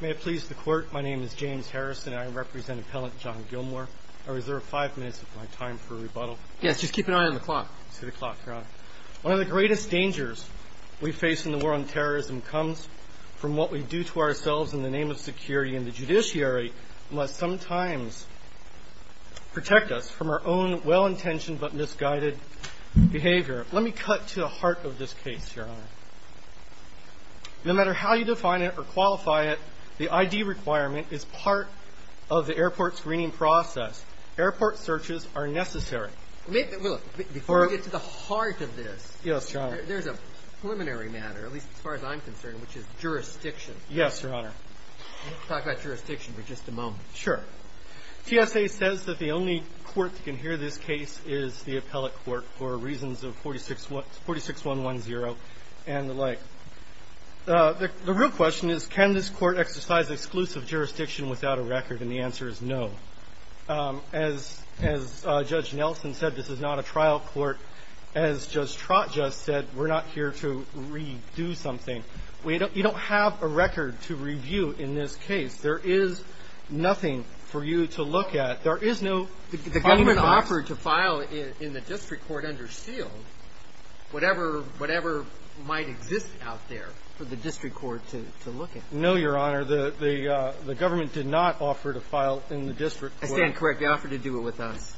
May it please the Court, my name is James Harrison and I represent Appellant John Gilmore. I reserve five minutes of my time for rebuttal. Yes, just keep an eye on the clock. To the clock, Your Honor. One of the greatest dangers we face in the world in terrorism comes from what we do to ourselves in the name of security. And the judiciary must sometimes protect us from our own well-intentioned but misguided behavior. Let me cut to the heart of this case, Your Honor. No matter how you define it or qualify it, the ID requirement is part of the airport's screening process. Airport searches are necessary. Before we get to the heart of this, there's a preliminary matter, at least as far as I'm concerned, which is jurisdiction. Yes, Your Honor. Let's talk about jurisdiction for just a moment. Sure. TSA says that the only court that can hear this case is the appellate court for reasons of 46110 and the like. The real question is, can this court exercise exclusive jurisdiction without a record? And the answer is no. As Judge Nelson said, this is not a trial court. As Judge Trott just said, we're not here to redo something. You don't have a record to review in this case. There is nothing for you to look at. There is no problem at all. The government offered to file in the district court under seal whatever might exist out there for the district court to look at. No, Your Honor. The government did not offer to file in the district court. I stand corrected. They offered to do it with us.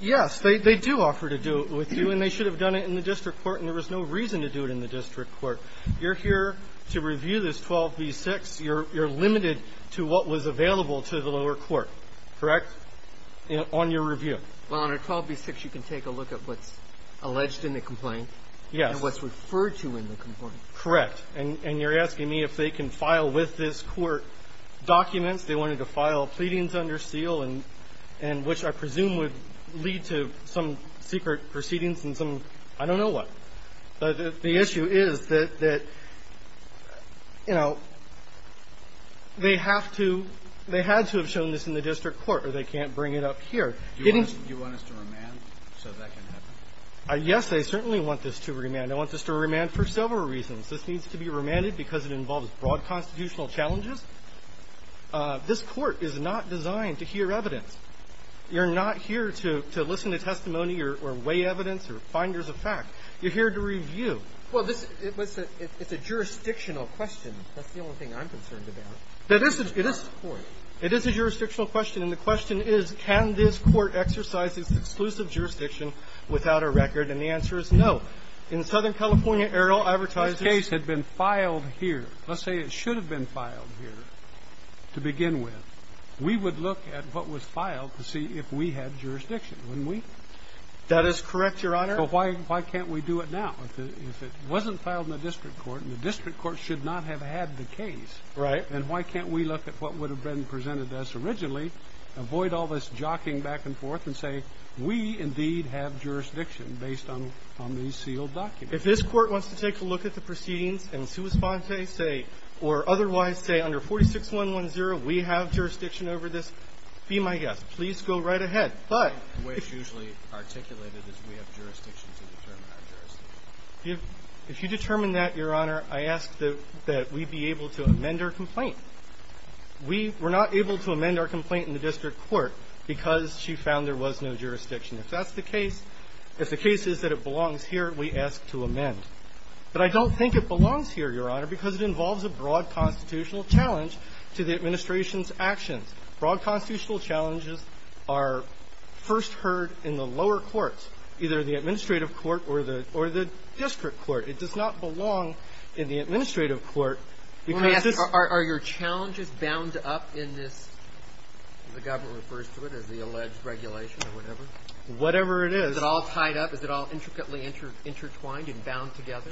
Yes. They do offer to do it with you, and they should have done it in the district court, and there was no reason to do it in the district court. You're here to review this 12b-6. You're limited to what was available to the lower court, correct, on your review. Well, under 12b-6, you can take a look at what's alleged in the complaint and what's referred to in the complaint. Correct. And you're asking me if they can file with this court documents. They wanted to file pleadings under seal and which I presume would lead to some secret proceedings and some I don't know what. The issue is that, you know, they have to have shown this in the district court or they can't bring it up here. Do you want us to remand so that can happen? Yes, I certainly want this to remand. I want this to remand for several reasons. This needs to be remanded because it involves broad constitutional challenges. This court is not designed to hear evidence. You're not here to listen to testimony or weigh evidence or finders of fact. You're here to review. Well, it's a jurisdictional question. That's the only thing I'm concerned about. It is a jurisdictional question. And the question is, can this court exercise its exclusive jurisdiction without a record? And the answer is no. In Southern California, Errol advertised this case had been filed here. Let's say it should have been filed here to begin with. We would look at what was filed to see if we had jurisdiction, wouldn't we? That is correct, Your Honor. So why can't we do it now? If it wasn't filed in the district court and the district court should not have had the case. Right. Then why can't we look at what would have been presented to us originally, avoid all this jockeying back and forth, and say we indeed have jurisdiction based on these sealed documents? If this court wants to take a look at the proceedings and sous-fante or otherwise say under 46110 we have jurisdiction over this, be my guest. Please go right ahead. The way it's usually articulated is we have jurisdiction to determine our jurisdiction. If you determine that, Your Honor, I ask that we be able to amend our complaint. We were not able to amend our complaint in the district court because she found there was no jurisdiction. If that's the case, if the case is that it belongs here, we ask to amend. But I don't think it belongs here, Your Honor, because it involves a broad constitutional challenge to the administration's actions. Broad constitutional challenges are first heard in the lower courts, either the administrative court or the district court. It does not belong in the administrative court. Let me ask you, are your challenges bound up in this, as the government refers to it, as the alleged regulation or whatever? Whatever it is. Is it all tied up? Is it all intricately intertwined and bound together?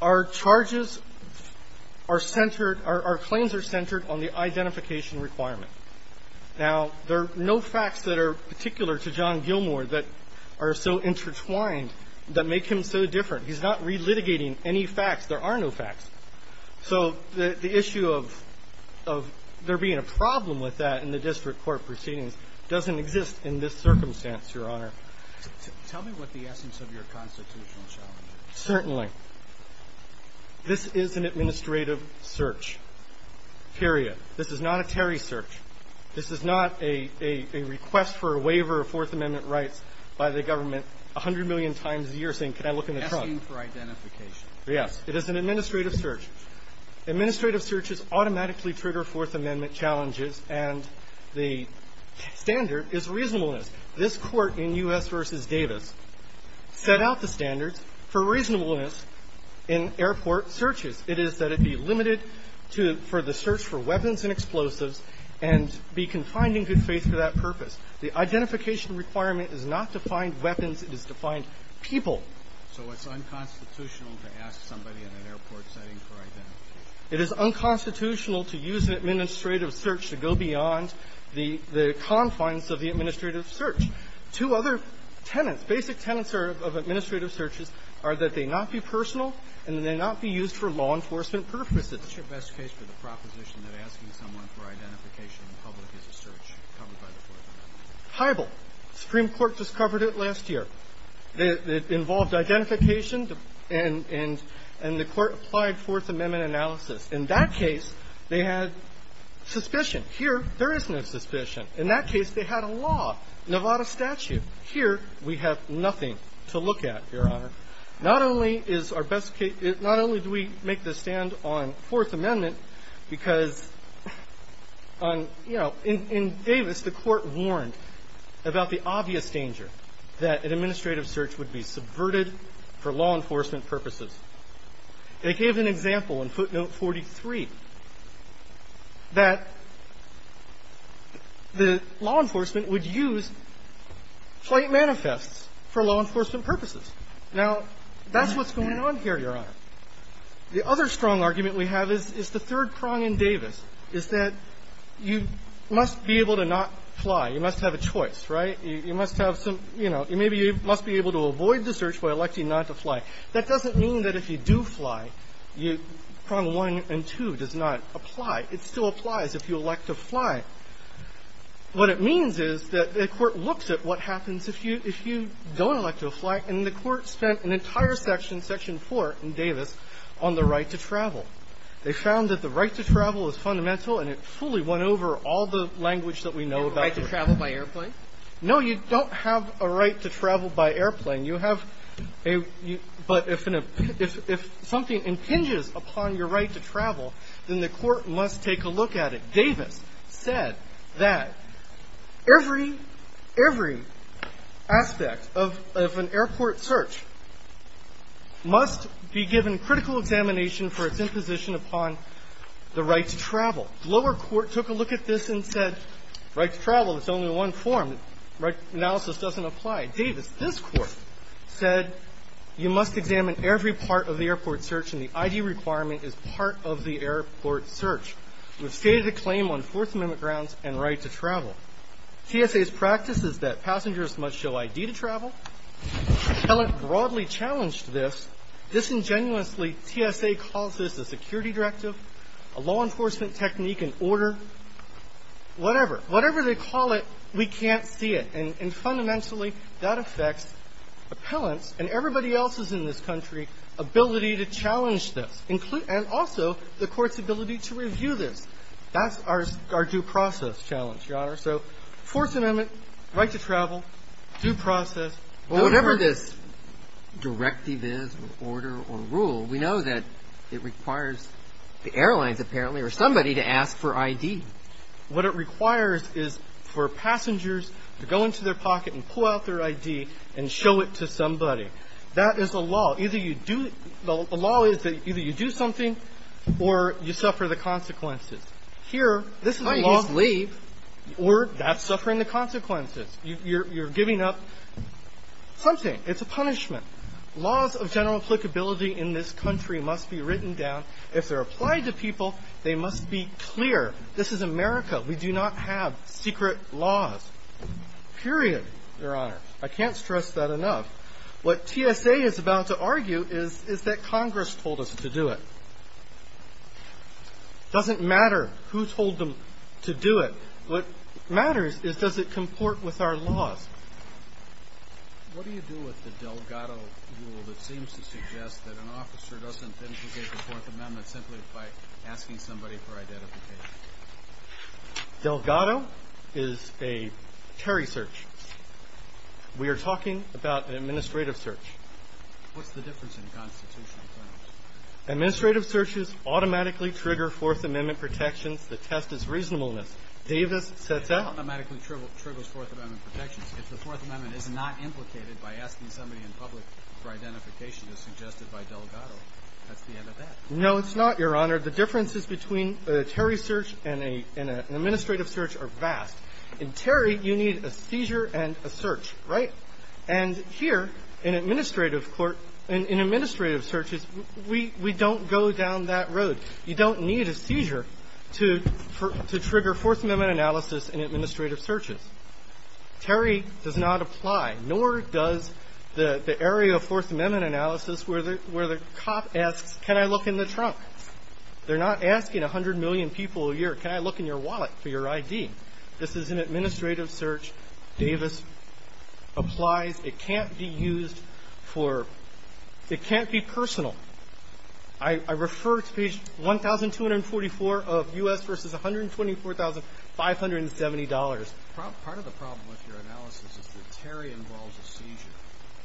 Our charges are centered, our claims are centered on the identification requirement. Now, there are no facts that are particular to John Gilmore that are so intertwined that make him so different. He's not relitigating any facts. There are no facts. So the issue of there being a problem with that in the district court proceedings doesn't exist in this circumstance, Your Honor. Tell me what the essence of your constitutional challenge is. Certainly. This is an administrative search, period. This is not a Terry search. This is not a request for a waiver of Fourth Amendment rights by the government a hundred million times a year saying, Can I look in the trunk? Asking for identification. Yes. It is an administrative search. Administrative searches automatically trigger Fourth Amendment challenges, and the standard is reasonableness. This Court in U.S. v. Davis set out the standards for reasonableness in airport searches. It is that it be limited to the search for weapons and explosives and be confined in good faith for that purpose. The identification requirement is not to find weapons. It is to find people. So it's unconstitutional to ask somebody in an airport setting for identification. It is unconstitutional to use an administrative search to go beyond the confines of the administrative search. Two other tenets, basic tenets of administrative searches are that they not be personal and that they not be used for law enforcement purposes. What's your best case for the proposition that asking someone for identification in public is a search covered by the Fourth Amendment? Heibel. Supreme Court just covered it last year. It involved identification and the Court applied Fourth Amendment analysis. In that case, they had suspicion. Here, there is no suspicion. In that case, they had a law, Nevada statute. Here, we have nothing to look at, Your Honor. Not only is our best case, not only do we make the stand on Fourth Amendment because on, you know, in Davis, the Court warned about the obvious danger that an administrative search would be subverted for law enforcement purposes. They gave an example in footnote 43 that the law enforcement would use flight manifests for law enforcement purposes. Now, that's what's going on here, Your Honor. The other strong argument we have is the third prong in Davis is that you must be able to not fly. You must have a choice, right? You must have some, you know, maybe you must be able to avoid the search by electing not to fly. That doesn't mean that if you do fly, you prong 1 and 2 does not apply. It still applies if you elect to fly. What it means is that the Court looks at what happens if you don't elect to fly, and the Court spent an entire section, section 4 in Davis, on the right to travel. They found that the right to travel is fundamental, and it fully went over all the language that we know about the right to travel. No, you don't have a right to travel by airplane. You have a – but if something impinges upon your right to travel, then the Court must take a look at it. Davis said that every, every aspect of an airport search must be given critical examination for its imposition upon the right to travel. The lower court took a look at this and said right to travel is only one form. Analysis doesn't apply. Davis, this Court, said you must examine every part of the airport search and the I.D. requirement is part of the airport search. We've stated the claim on Fourth Amendment grounds and right to travel. TSA's practice is that passengers must show I.D. to travel. Helen broadly challenged this. Disingenuously, TSA calls this a security directive, a law enforcement technique and order, whatever. Whatever they call it, we can't see it. And fundamentally, that affects appellants and everybody else's in this country ability to challenge this and also the Court's ability to review this. That's our due process challenge, Your Honor. So Fourth Amendment, right to travel, due process. Whatever this directive is or order or rule, we know that it requires the airlines apparently or somebody to ask for I.D. What it requires is for passengers to go into their pocket and pull out their I.D. and show it to somebody. That is a law. Either you do the law is that either you do something or you suffer the consequences. Here, this is a law of leave or that's suffering the consequences. You're giving up something. It's a punishment. Laws of general applicability in this country must be written down. If they're applied to people, they must be clear. This is America. We do not have secret laws, period, Your Honor. I can't stress that enough. What TSA is about to argue is that Congress told us to do it. It doesn't matter who told them to do it. What matters is does it comport with our laws. What do you do with the Delgado rule that seems to suggest that an officer doesn't implicate the Fourth Amendment simply by asking somebody for identification? Delgado is a Terry search. We are talking about an administrative search. What's the difference in constitutional terms? Administrative searches automatically trigger Fourth Amendment protections. The test is reasonableness. Davis sets out. It automatically triggers Fourth Amendment protections. If the Fourth Amendment is not implicated by asking somebody in public for identification as suggested by Delgado, that's the end of that. No, it's not, Your Honor. The differences between a Terry search and an administrative search are vast. In Terry, you need a seizure and a search, right? And here, in administrative court, in administrative searches, we don't go down that road. You don't need a seizure to trigger Fourth Amendment analysis in administrative searches. Terry does not apply, nor does the area of Fourth Amendment analysis where the cop asks, can I look in the trunk? They're not asking 100 million people a year, can I look in your wallet for your ID? This is an administrative search. Davis applies. It can't be used for ñ it can't be personal. I refer to page 1244 of U.S. v. $124,570. Part of the problem with your analysis is that Terry involves a seizure.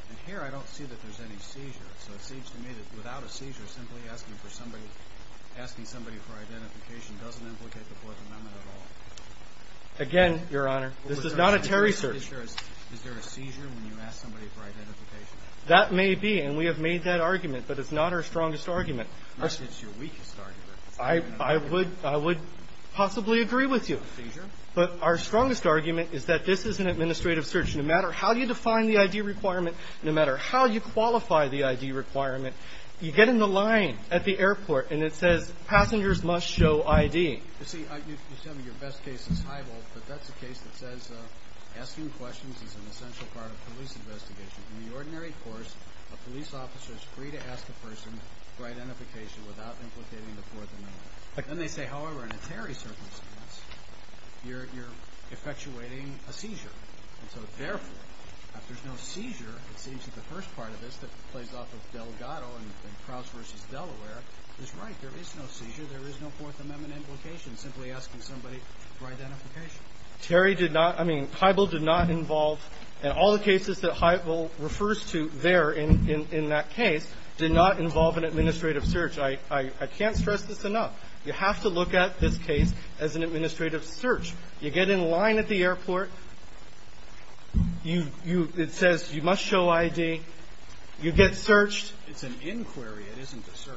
And here, I don't see that there's any seizure. So it seems to me that without a seizure, simply asking somebody for identification doesn't implicate the Fourth Amendment at all. Again, Your Honor, this is not a Terry search. Is there a seizure when you ask somebody for identification? That may be, and we have made that argument, but it's not our strongest argument. It's your weakest argument. I would possibly agree with you. But our strongest argument is that this is an administrative search. No matter how you define the ID requirement, no matter how you qualify the ID requirement, you get in the line at the airport, and it says, passengers must show ID. You see, you tell me your best case is Heibel, but that's a case that says asking questions is an essential part of police investigation. In the ordinary course, a police officer is free to ask a person for identification without implicating the Fourth Amendment. Then they say, however, in a Terry circumstance, you're effectuating a seizure. And so therefore, if there's no seizure, it seems that the first part of this that plays off of Delgado and Crouse v. Delaware is right. There is no seizure. There is no Fourth Amendment implication simply asking somebody for identification. Terry did not – I mean, Heibel did not involve – and all the cases that Heibel refers to there in that case did not involve an administrative search. I can't stress this enough. You have to look at this case as an administrative search. You get in line at the airport. It says you must show ID. You get searched. It's an inquiry. It isn't a search.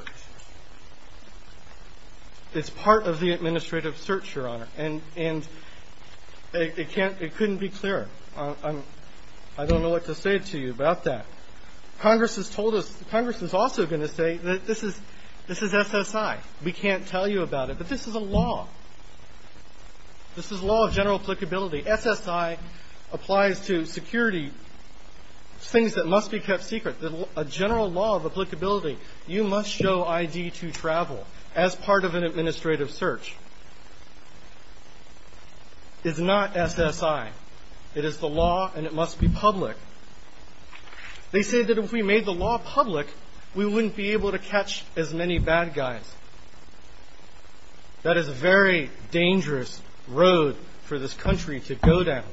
It's part of the administrative search, Your Honor. And it can't – it couldn't be clearer. I don't know what to say to you about that. Congress has told us – Congress is also going to say that this is SSI. We can't tell you about it. But this is a law. This is law of general applicability. SSI applies to security, things that must be kept secret, a general law of applicability. You must show ID to travel as part of an administrative search. It's not SSI. It is the law, and it must be public. They say that if we made the law public, we wouldn't be able to catch as many bad guys. That is a very dangerous road for this country to go down.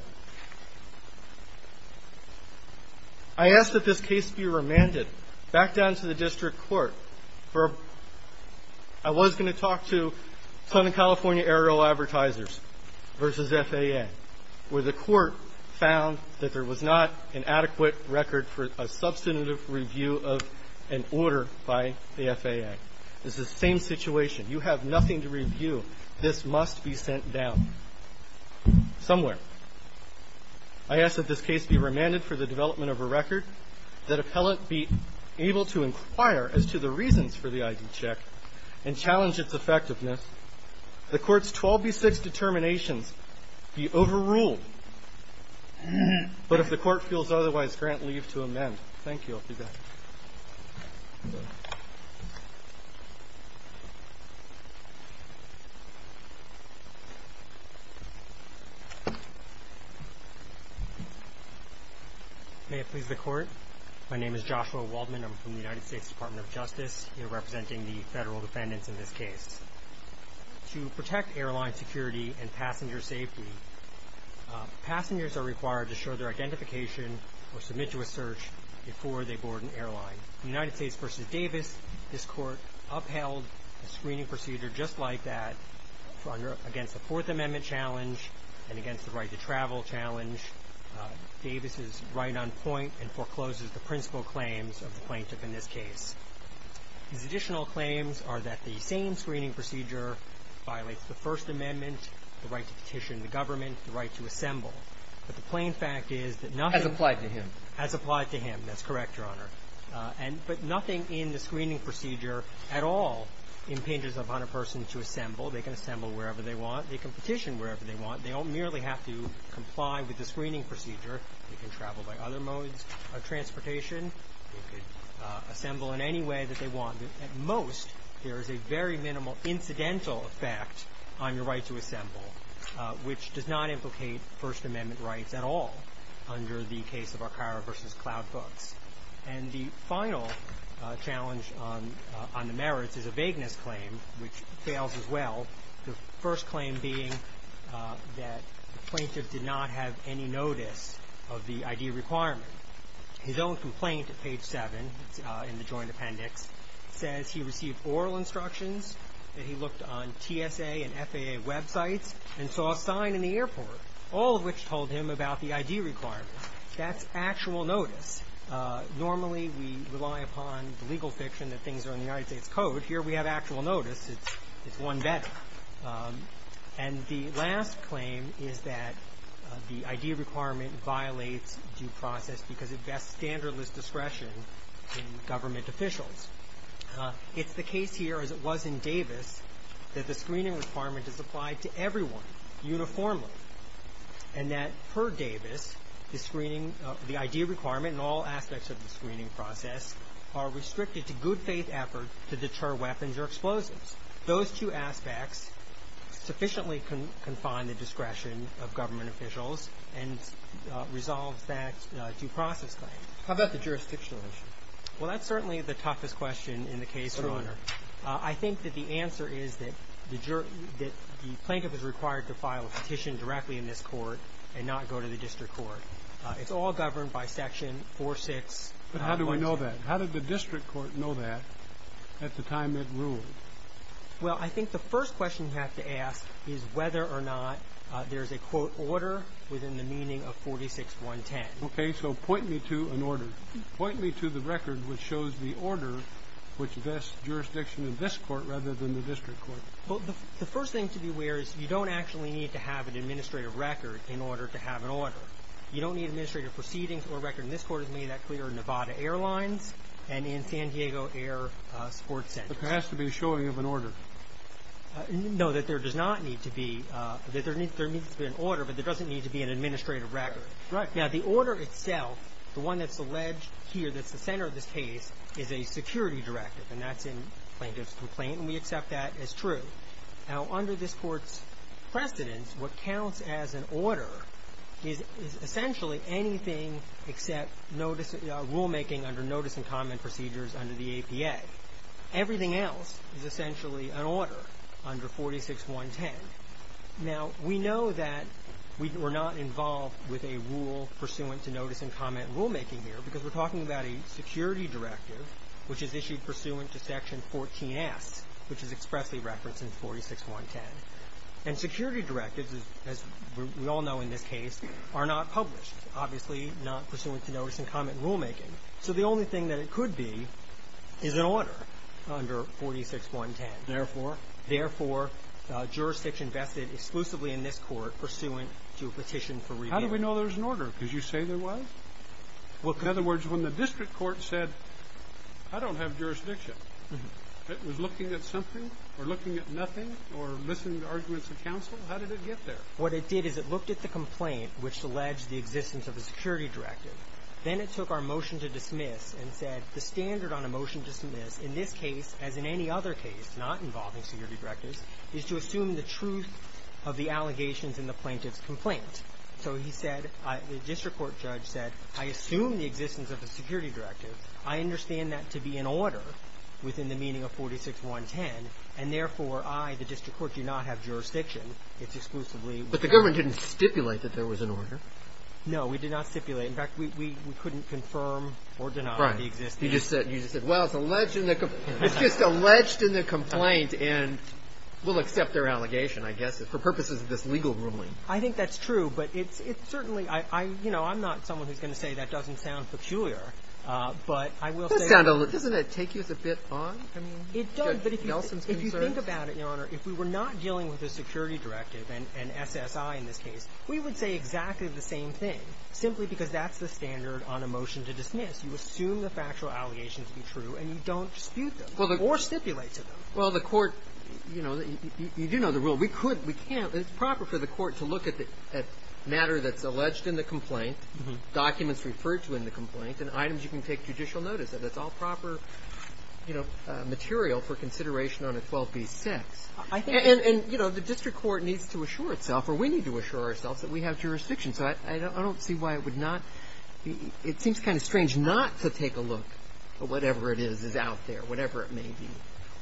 I ask that this case be remanded back down to the district court for – I was going to talk to Southern California Aero Advertisers versus FAA, where the court found that there was not an adequate record for a substantive review of an order by the FAA. It's the same situation. You have nothing to review. This must be sent down somewhere. I ask that this case be remanded for the development of a record that appellant be able to inquire as to the reasons for the ID check and challenge its effectiveness. The court's 12B6 determinations be overruled. But if the court feels otherwise, grant leave to amend. Thank you. I'll be back. Thank you. May it please the court. My name is Joshua Waldman. I'm from the United States Department of Justice. You're representing the federal defendants in this case. To protect airline security and passenger safety, passengers are required to show their identification or submit to a search before they board an airline. In the United States versus Davis, this court upheld the screening procedure just like that against the Fourth Amendment challenge and against the right to travel challenge. Davis is right on point and forecloses the principal claims of the plaintiff in this case. His additional claims are that the same screening procedure the right to assemble. But the plain fact is that nothing Has applied to him. Has applied to him. That's correct, Your Honor. But nothing in the screening procedure at all impinges upon a person to assemble. They can assemble wherever they want. They can petition wherever they want. They don't merely have to comply with the screening procedure. They can travel by other modes of transportation. They can assemble in any way that they want. At most, there is a very minimal incidental effect on your right to assemble, which does not implicate First Amendment rights at all under the case of Arcaro versus Cloud Books. And the final challenge on the merits is a vagueness claim, which fails as well, the first claim being that the plaintiff did not have any notice of the ID requirement. His own complaint at page 7 in the joint appendix says he received oral instructions, that he looked on TSA and FAA websites and saw a sign in the airport, all of which told him about the ID requirement. That's actual notice. Normally, we rely upon the legal fiction that things are in the United States Code. Here, we have actual notice. It's one better. And the last claim is that the ID requirement violates due process because it bests standardless discretion in government officials. It's the case here, as it was in Davis, that the screening requirement is applied to everyone uniformly and that, per Davis, the screening of the ID requirement and all aspects of the screening process are restricted to good faith effort to deter weapons or explosives. Those two aspects sufficiently confine the discretion of government officials and resolve that due process claim. How about the jurisdictional issue? Well, that's certainly the toughest question in the case, Your Honor. I think that the answer is that the plaintiff is required to file a petition directly in this court and not go to the district court. It's all governed by Section 4-6. But how do we know that? How did the district court know that at the time it ruled? Well, I think the first question you have to ask is whether or not there's a, quote, order within the meaning of 46-110. Okay, so point me to an order. Point me to the record which shows the order which vests jurisdiction in this court rather than the district court. Well, the first thing to be aware is you don't actually need to have an administrative record in order to have an order. You don't need administrative proceedings or a record. And this court has made that clear in Nevada Airlines and in San Diego Air Sports Center. There has to be a showing of an order. No, that there does not need to be. There needs to be an order, but there doesn't need to be an administrative record. Right. Now, the order itself, the one that's alleged here, that's the center of this case, is a security directive, and that's in plaintiff's complaint, and we accept that as true. Now, under this court's precedence, what counts as an order is essentially anything except rulemaking under notice and comment procedures under the APA. Everything else is essentially an order under 46-110. Now, we know that we're not involved with a rule pursuant to notice and comment rulemaking here because we're talking about a security directive, which is issued pursuant to Section 14-S, which is expressly referenced in 46-110. And security directives, as we all know in this case, are not published, obviously not pursuant to notice and comment rulemaking. Therefore? Therefore, jurisdiction vested exclusively in this court pursuant to a petition for rebate. How do we know there's an order? Because you say there was? In other words, when the district court said, I don't have jurisdiction, it was looking at something or looking at nothing or listening to arguments of counsel? How did it get there? What it did is it looked at the complaint, which alleged the existence of a security directive. Then it took our motion to dismiss and said, the standard on a motion to dismiss in this case, as in any other case, not involving security directives, is to assume the truth of the allegations in the plaintiff's complaint. So he said, the district court judge said, I assume the existence of a security directive. I understand that to be in order within the meaning of 46-110. And therefore, I, the district court, do not have jurisdiction. It's exclusively. But the government didn't stipulate that there was an order. No, we did not stipulate. In fact, we couldn't confirm or deny the existence. Right. You just said, well, it's alleged in the complaint. And we'll accept their allegation, I guess, for purposes of this legal ruling. I think that's true. But it's certainly – you know, I'm not someone who's going to say that doesn't sound peculiar. But I will say – Doesn't it take you as a bit on? It does. But if you think about it, Your Honor, if we were not dealing with a security directive, an SSI in this case, we would say exactly the same thing, simply because that's the standard on a motion to dismiss. You assume the factual allegations to be true, and you don't dispute them or stipulate to them. Well, the Court – you know, you do know the rule. We could – we can't. It's proper for the Court to look at matter that's alleged in the complaint, documents referred to in the complaint, and items you can take judicial notice of. It's all proper, you know, material for consideration on a 12b6. I think – And, you know, the district court needs to assure itself, or we need to assure ourselves, that we have jurisdiction. So I don't see why it would not be – it seems kind of strange not to take a look at whatever it is that's out there, whatever it may be.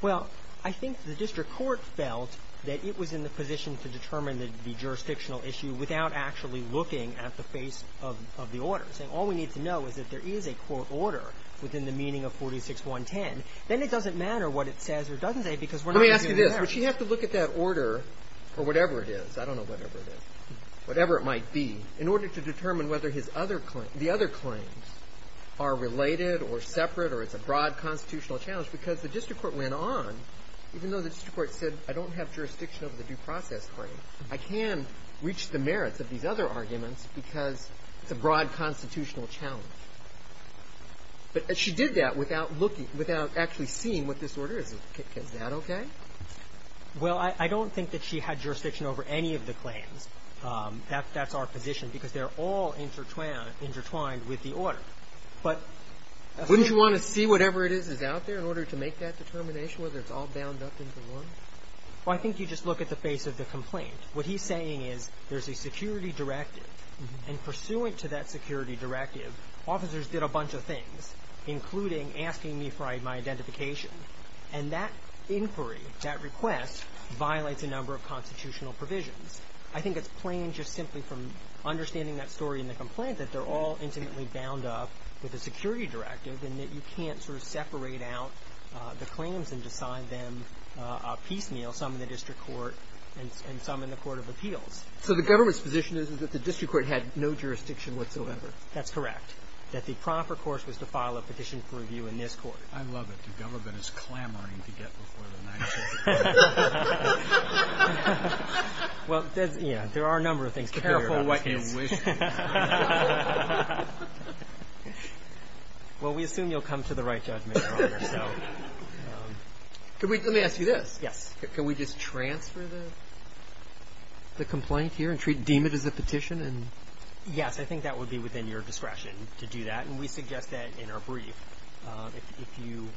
Well, I think the district court felt that it was in the position to determine the jurisdictional issue without actually looking at the face of the order, saying all we need to know is that there is a court order within the meaning of 46110. Then it doesn't matter what it says or doesn't say because we're not going to be there. Let me ask you this. Would she have to look at that order, or whatever it is, I don't know whatever it is, whatever it might be, in order to determine whether his other – the other claims are related or separate or it's a broad constitutional challenge? Because the district court went on, even though the district court said I don't have jurisdiction over the due process claim, I can reach the merits of these other arguments because it's a broad constitutional challenge. But she did that without looking – without actually seeing what this order is. Is that okay? Well, I don't think that she had jurisdiction over any of the claims. That's our position because they're all intertwined with the order. But wouldn't you want to see whatever it is that's out there in order to make that determination, whether it's all bound up into one? Well, I think you just look at the face of the complaint. What he's saying is there's a security directive. And pursuant to that security directive, officers did a bunch of things, including asking me for my identification. And that inquiry, that request, violates a number of constitutional provisions. I think it's plain just simply from understanding that story in the complaint that they're all intimately bound up with a security directive and that you can't sort of separate out the claims and decide them piecemeal, some in the district court and some in the court of appeals. So the government's position is that the district court had no jurisdiction whatsoever. That's correct. That the proper course was to file a petition for review in this court. I love it. The government is clamoring to get before the national court. Well, there are a number of things to figure out. Careful what you wish for. Well, we assume you'll come to the right judgment, Your Honor. Let me ask you this. Yes. Can we just transfer the complaint here and deem it as a petition? Yes, I think that would be within your discretion to do that. And we suggest that in our brief. If you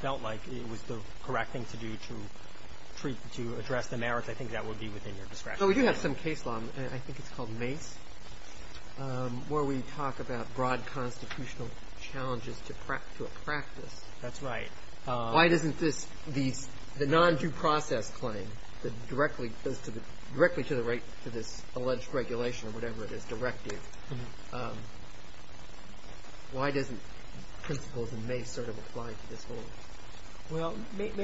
felt like it was the correct thing to do to address the merits, I think that would be within your discretion. So we do have some case law. I think it's called Mace, where we talk about broad constitutional challenges to a practice. That's right. Why doesn't this, the non-due process claim that directly goes to the, directly to this alleged regulation or whatever it is, directive, why doesn't principles in Mace sort of apply to this whole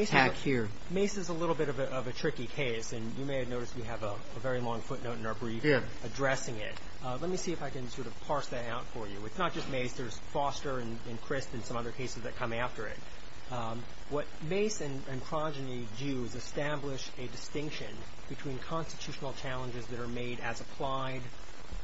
attack here? Well, Mace is a little bit of a tricky case. And you may have noticed we have a very long footnote in our brief addressing it. Let me see if I can sort of parse that out for you. It's not just Mace. There's Foster and Crist and some other cases that come after it. What Mace and Progeny do is establish a distinction between constitutional challenges that are made as applied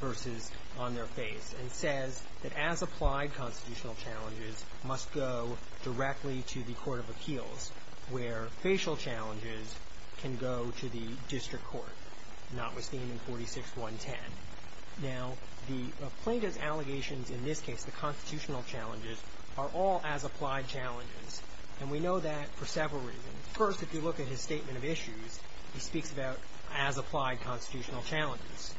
versus on their face, and says that as applied constitutional challenges must go directly to the court of appeals, where facial challenges can go to the district court. And that was seen in 46-110. Now, the plaintiff's allegations in this case, the constitutional challenges, are all as applied challenges. And we know that for several reasons. First, if you look at his statement of issues, he speaks about as applied constitutional challenges.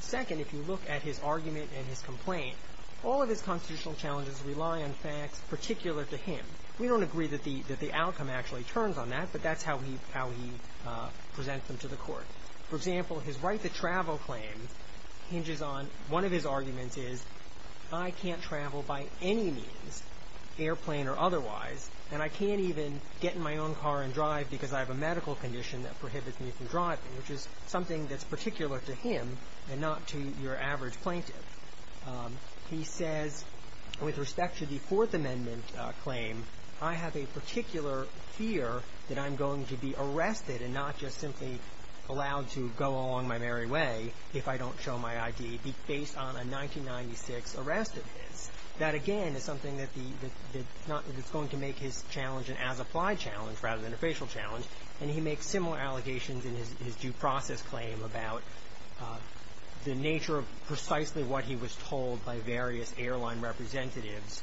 Second, if you look at his argument and his complaint, all of his constitutional challenges rely on facts particular to him. We don't agree that the outcome actually turns on that, but that's how he presents them to the court. For example, his right to travel claim hinges on, one of his arguments is, I can't travel by any means, airplane or otherwise, and I can't even get in my own car and drive because I have a medical condition that prohibits me from driving, which is something that's particular to him and not to your average plaintiff. He says, with respect to the Fourth Amendment claim, I have a particular fear that I'm going to be arrested and not just simply allowed to go along my merry way if I don't show my ID, based on a 1996 arrest of his. That, again, is something that's going to make his challenge an as-applied challenge rather than a facial challenge, and he makes similar allegations in his due process claim about the nature of precisely what he was told by various airline representatives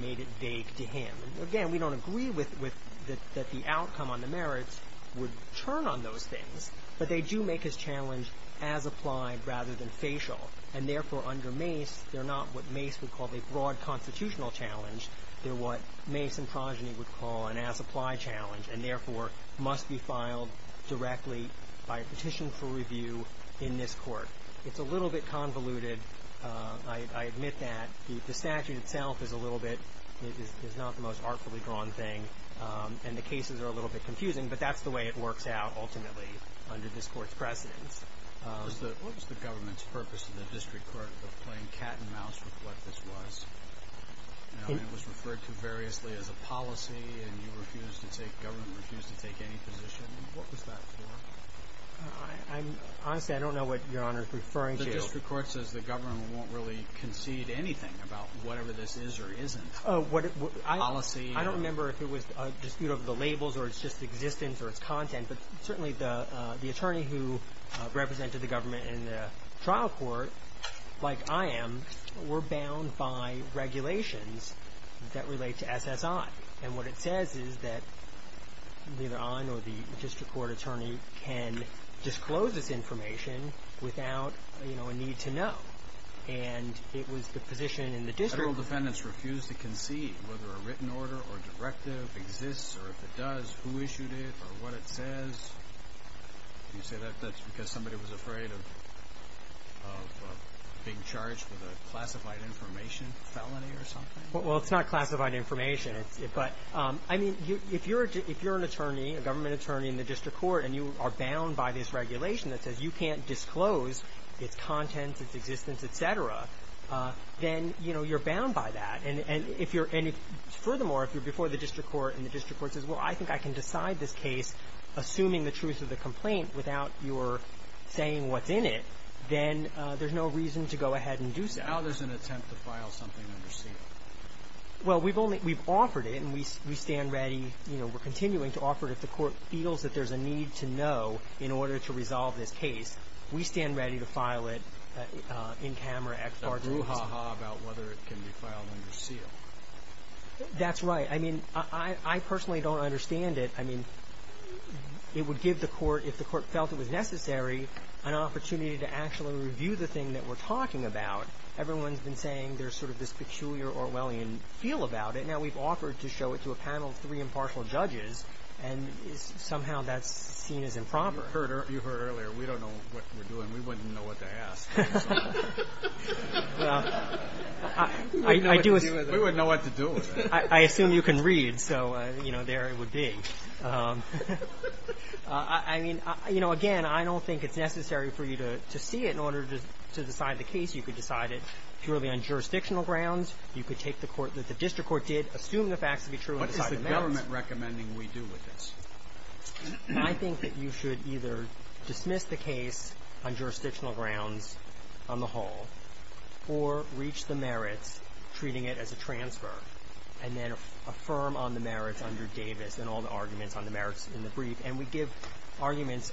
made it vague to him. Again, we don't agree that the outcome on the merits would turn on those things, but they do make his challenge as-applied rather than facial, and, therefore, under Mace, they're not what Mace would call a broad constitutional challenge. They're what Mace and Progeny would call an as-applied challenge and, therefore, must be filed directly by a petition for review in this Court. It's a little bit convoluted. I admit that. The statute itself is a little bit, is not the most artfully drawn thing, and the cases are a little bit confusing, but that's the way it works out ultimately. Under this Court's precedence. What was the government's purpose to the district court of playing cat and mouse with what this was? It was referred to variously as a policy, and you refused to take, government refused to take any position. What was that for? Honestly, I don't know what Your Honor is referring to. The district court says the government won't really concede anything about whatever this is or isn't. Policy. I don't remember if it was a dispute over the labels or it's just existence or it's content, but certainly the attorney who represented the government in the trial court, like I am, were bound by regulations that relate to SSI. And what it says is that either I or the district court attorney can disclose this information without a need to know. And it was the position in the district court. Federal defendants refused to concede whether a written order or directive exists or if it does, who issued it or what it says. Did you say that's because somebody was afraid of being charged with a classified information felony or something? Well, it's not classified information. But, I mean, if you're an attorney, a government attorney in the district court, and you are bound by this regulation that says you can't disclose its contents, its existence, et cetera, then, you know, you're bound by that. And furthermore, if you're before the district court and the district court says, well, I think I can decide this case assuming the truth of the complaint without your saying what's in it, then there's no reason to go ahead and do so. Now there's an attempt to file something under seal. Well, we've offered it and we stand ready, you know, we're continuing to offer it if the court feels that there's a need to know in order to resolve this case. We stand ready to file it in camera, ex parte. It's a brouhaha about whether it can be filed under seal. That's right. I mean, I personally don't understand it. I mean, it would give the court, if the court felt it was necessary, an opportunity to actually review the thing that we're talking about. Everyone's been saying there's sort of this peculiar Orwellian feel about it. Now we've offered to show it to a panel of three impartial judges, and somehow that's seen as improper. You heard earlier, we don't know what we're doing. We wouldn't know what to ask. We wouldn't know what to do with it. I assume you can read, so, you know, there it would be. I mean, you know, again, I don't think it's necessary for you to see it in order to decide the case. You could decide it purely on jurisdictional grounds. You could take the court that the district court did, assume the facts to be true and decide the facts. What is the government recommending we do with this? I think that you should either dismiss the case on jurisdictional grounds on the whole, or reach the merits, treating it as a transfer, and then affirm on the merits under Davis and all the arguments on the merits in the brief. And we give arguments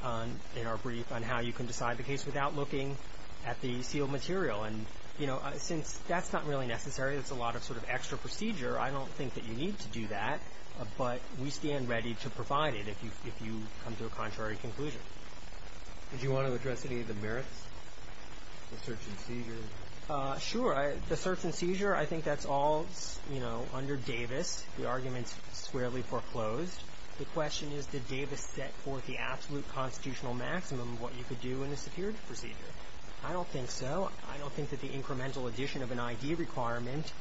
in our brief on how you can decide the case without looking at the sealed material. And, you know, since that's not really necessary, it's a lot of sort of extra procedure, I don't think that you need to do that, but we stand ready to provide it if you come to a contrary conclusion. Did you want to address any of the merits, the search and seizure? Sure. The search and seizure, I think that's all, you know, under Davis. The argument's squarely foreclosed. The question is, did Davis set forth the absolute constitutional maximum of what you could do in a security procedure? I don't think so. I don't think that the incremental addition of an I.D. requirement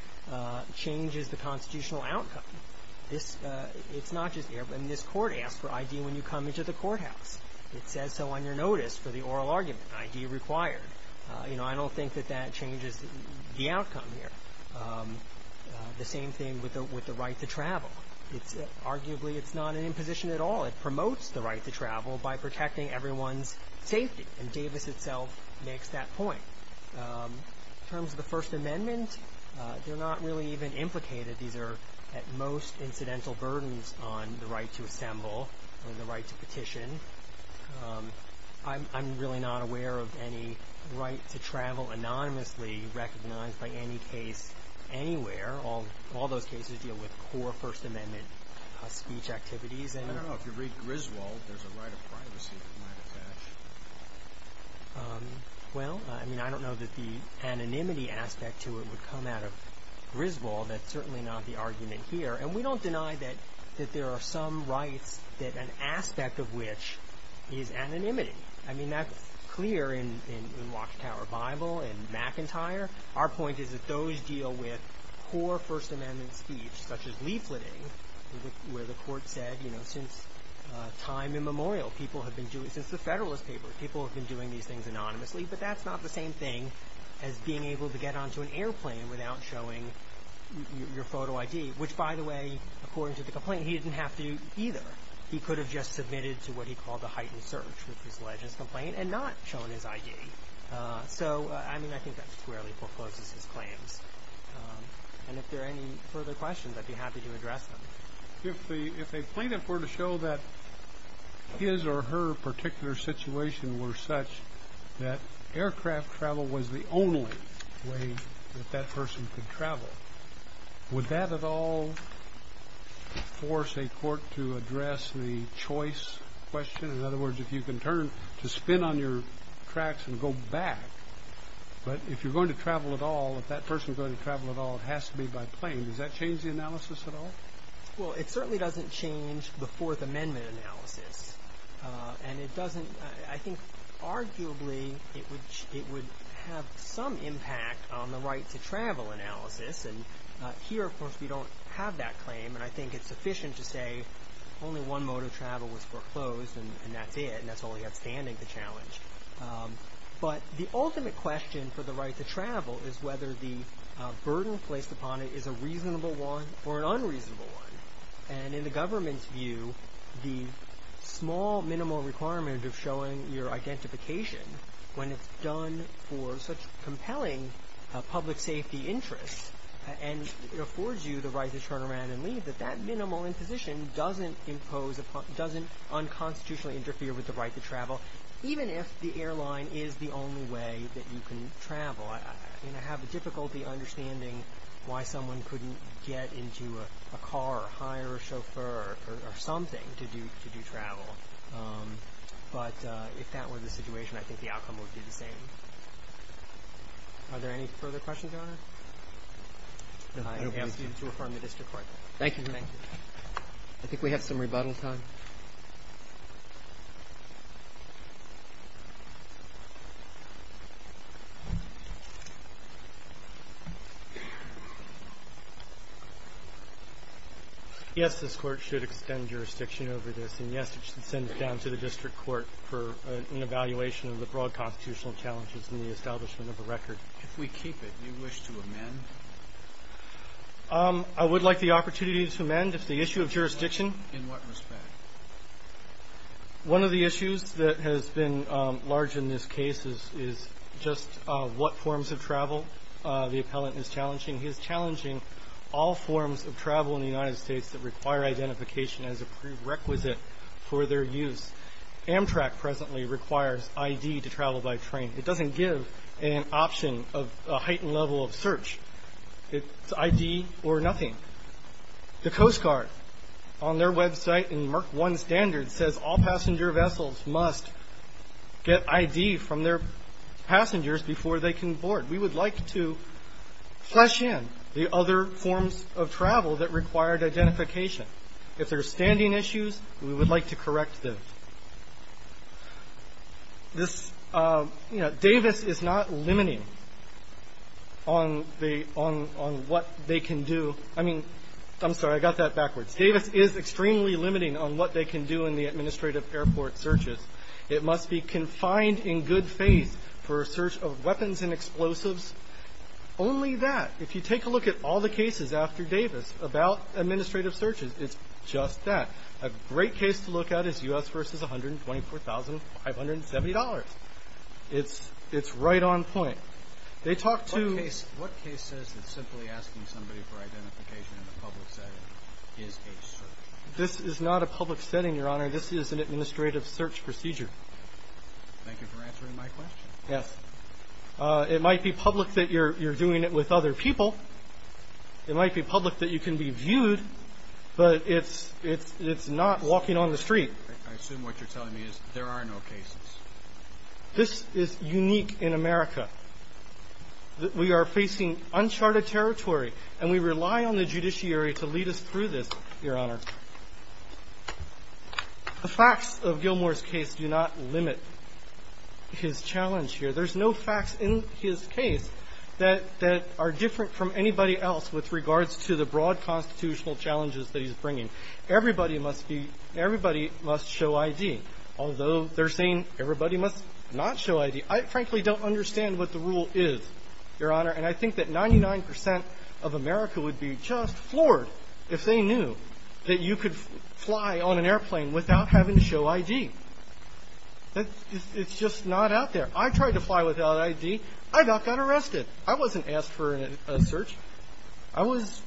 changes the constitutional outcome. It's not just here. I mean, this Court asks for I.D. when you come into the courthouse. It says so on your notice for the oral argument, I.D. required. You know, I don't think that that changes the outcome here. The same thing with the right to travel. Arguably, it's not an imposition at all. It promotes the right to travel by protecting everyone's safety, and Davis itself makes that point. In terms of the First Amendment, they're not really even implicated. These are, at most, incidental burdens on the right to assemble or the right to petition. I'm really not aware of any right to travel anonymously recognized by any case anywhere. All those cases deal with core First Amendment speech activities. I don't know. If you read Griswold, there's a right of privacy that might attach. Well, I mean, I don't know that the anonymity aspect to it would come out of Griswold. That's certainly not the argument here. And we don't deny that there are some rights that an aspect of which is anonymity. I mean, that's clear in Watchtower Bible and McIntyre. Our point is that those deal with core First Amendment speech, such as leafleting, where the court said, you know, since time immemorial, people have been doing, since the Federalist Papers, people have been doing these things anonymously. But that's not the same thing as being able to get onto an airplane without showing your photo ID, which, by the way, according to the complaint, he didn't have to either. He could have just submitted to what he called the heightened search, which was alleged in his complaint, and not shown his ID. So, I mean, I think that squarely forecloses his claims. And if there are any further questions, I'd be happy to address them. If a plaintiff were to show that his or her particular situation were such that aircraft travel was the only way that that person could travel, would that at all force a court to address the choice question? In other words, if you can turn to spin on your tracks and go back, but if you're going to travel at all, if that person's going to travel at all, it has to be by plane. Does that change the analysis at all? Well, it certainly doesn't change the Fourth Amendment analysis. And it doesn't, I think, arguably, it would have some impact on the right to travel analysis. And here, of course, we don't have that claim. And I think it's sufficient to say only one mode of travel was foreclosed, and that's it. And that's only outstanding the challenge. But the ultimate question for the right to travel is whether the burden placed upon it is a reasonable one or an unreasonable one. And in the government's view, the small, minimal requirement of showing your identification when it's done for such compelling public safety interests, and it affords you the right to turn around and leave, that that minimal imposition doesn't unconstitutionally interfere with the right to travel, even if the airline is the only way that you can travel. I have difficulty understanding why someone couldn't get into a car or hire a chauffeur or something to do travel. But if that were the situation, I think the outcome would be the same. Are there any further questions, Your Honor? I ask you to affirm the district court. Thank you. Thank you. I think we have some rebuttal time. Yes, this Court should extend jurisdiction over this. And, yes, it should send it down to the district court for an evaluation of the broad constitutional challenges in the establishment of a record. If we keep it, do you wish to amend? I would like the opportunity to amend. If the issue of jurisdiction. In what respect? One of the issues that has been large in this case is just what forms of travel the appellant is challenging. He is challenging all forms of travel in the United States that require identification as a prerequisite for their use. Amtrak presently requires I.D. to travel by train. It doesn't give an option of a heightened level of search. It's I.D. or nothing. The Coast Guard, on their website in Mark 1 standard, says all passenger vessels must get I.D. from their passengers before they can board. We would like to flesh in the other forms of travel that required identification. If there are standing issues, we would like to correct them. This, you know, Davis is not limiting on the – on what they can do. I mean – I'm sorry. I got that backwards. Davis is extremely limiting on what they can do in the administrative airport searches. It must be confined in good faith for a search of weapons and explosives. Only that, if you take a look at all the cases after Davis about administrative searches, it's just that. A great case to look at is U.S. v. $124,570. It's right on point. They talk to – What case says that simply asking somebody for identification in a public setting is a search? This is not a public setting, Your Honor. This is an administrative search procedure. Thank you for answering my question. Yes. It might be public that you're doing it with other people. It might be public that you can be viewed, but it's not walking on the street. I assume what you're telling me is there are no cases. This is unique in America. We are facing uncharted territory, and we rely on the judiciary to lead us through this, Your Honor. The facts of Gilmour's case do not limit his challenge here. There's no facts in his case that are different from anybody else with regards to the broad constitutional challenges that he's bringing. Everybody must be – everybody must show ID, although they're saying everybody must not show ID. I frankly don't understand what the rule is, Your Honor, and I think that 99 percent of America would be just floored if they knew that you could fly on an airplane without having to show ID. It's just not out there. I tried to fly without ID. I got arrested. I wasn't asked for a search. I was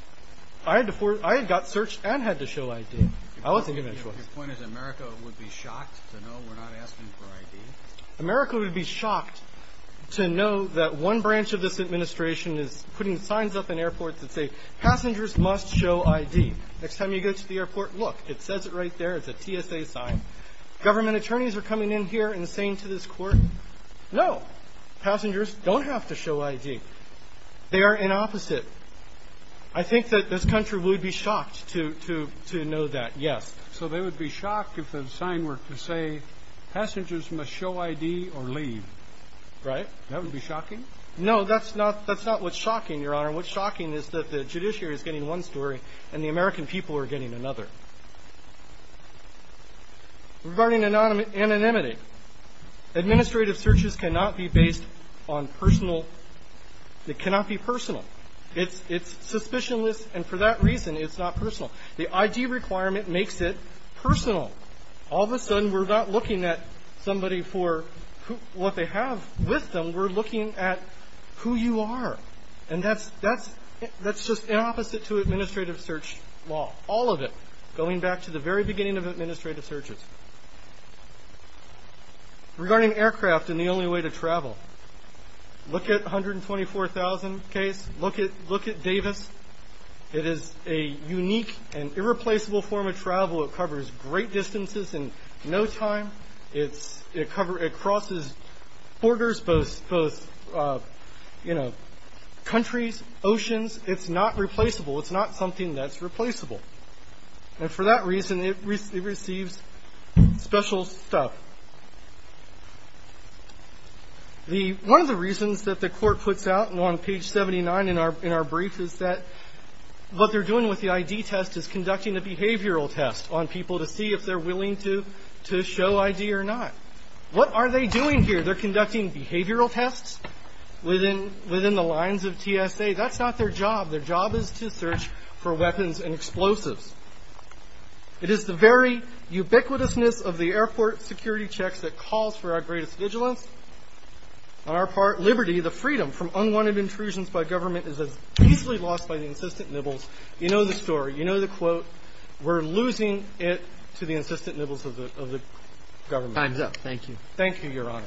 – I had got searched and had to show ID. Your point is America would be shocked to know we're not asking for ID? America would be shocked to know that one branch of this administration is putting signs up in airports that say passengers must show ID. Next time you go to the airport, look, it says it right there. It's a TSA sign. Government attorneys are coming in here and saying to this court, no, passengers don't have to show ID. They are in opposite. I think that this country would be shocked to know that, yes. So they would be shocked if the sign were to say passengers must show ID or leave, right? That would be shocking? No, that's not what's shocking, Your Honor. What's shocking is that the judiciary is getting one story and the American people are getting another. Regarding anonymity, administrative searches cannot be based on personal – it cannot be personal. It's suspicionless, and for that reason, it's not personal. The ID requirement makes it personal. All of a sudden, we're not looking at somebody for what they have with them. We're looking at who you are, and that's just opposite to administrative search law, all of it, going back to the very beginning of administrative searches. Regarding aircraft and the only way to travel, look at 124,000 case, look at Davis. It is a unique and irreplaceable form of travel. It covers great distances in no time. It crosses borders, both, you know, countries, oceans. It's not replaceable. It's not something that's replaceable, and for that reason, it receives special stuff. One of the reasons that the court puts out on page 79 in our brief is that what they're doing with the ID test is conducting a behavioral test on people to see if they're willing to show ID or not. What are they doing here? They're conducting behavioral tests within the lines of TSA. That's not their job. Their job is to search for weapons and explosives. It is the very ubiquitousness of the airport security checks that calls for our greatest vigilance. On our part, liberty, the freedom from unwanted intrusions by government, is as easily lost by the insistent nibbles. You know the story. You know the quote. We're losing it to the insistent nibbles of the government. Time's up. Thank you. Thank you, Your Honor.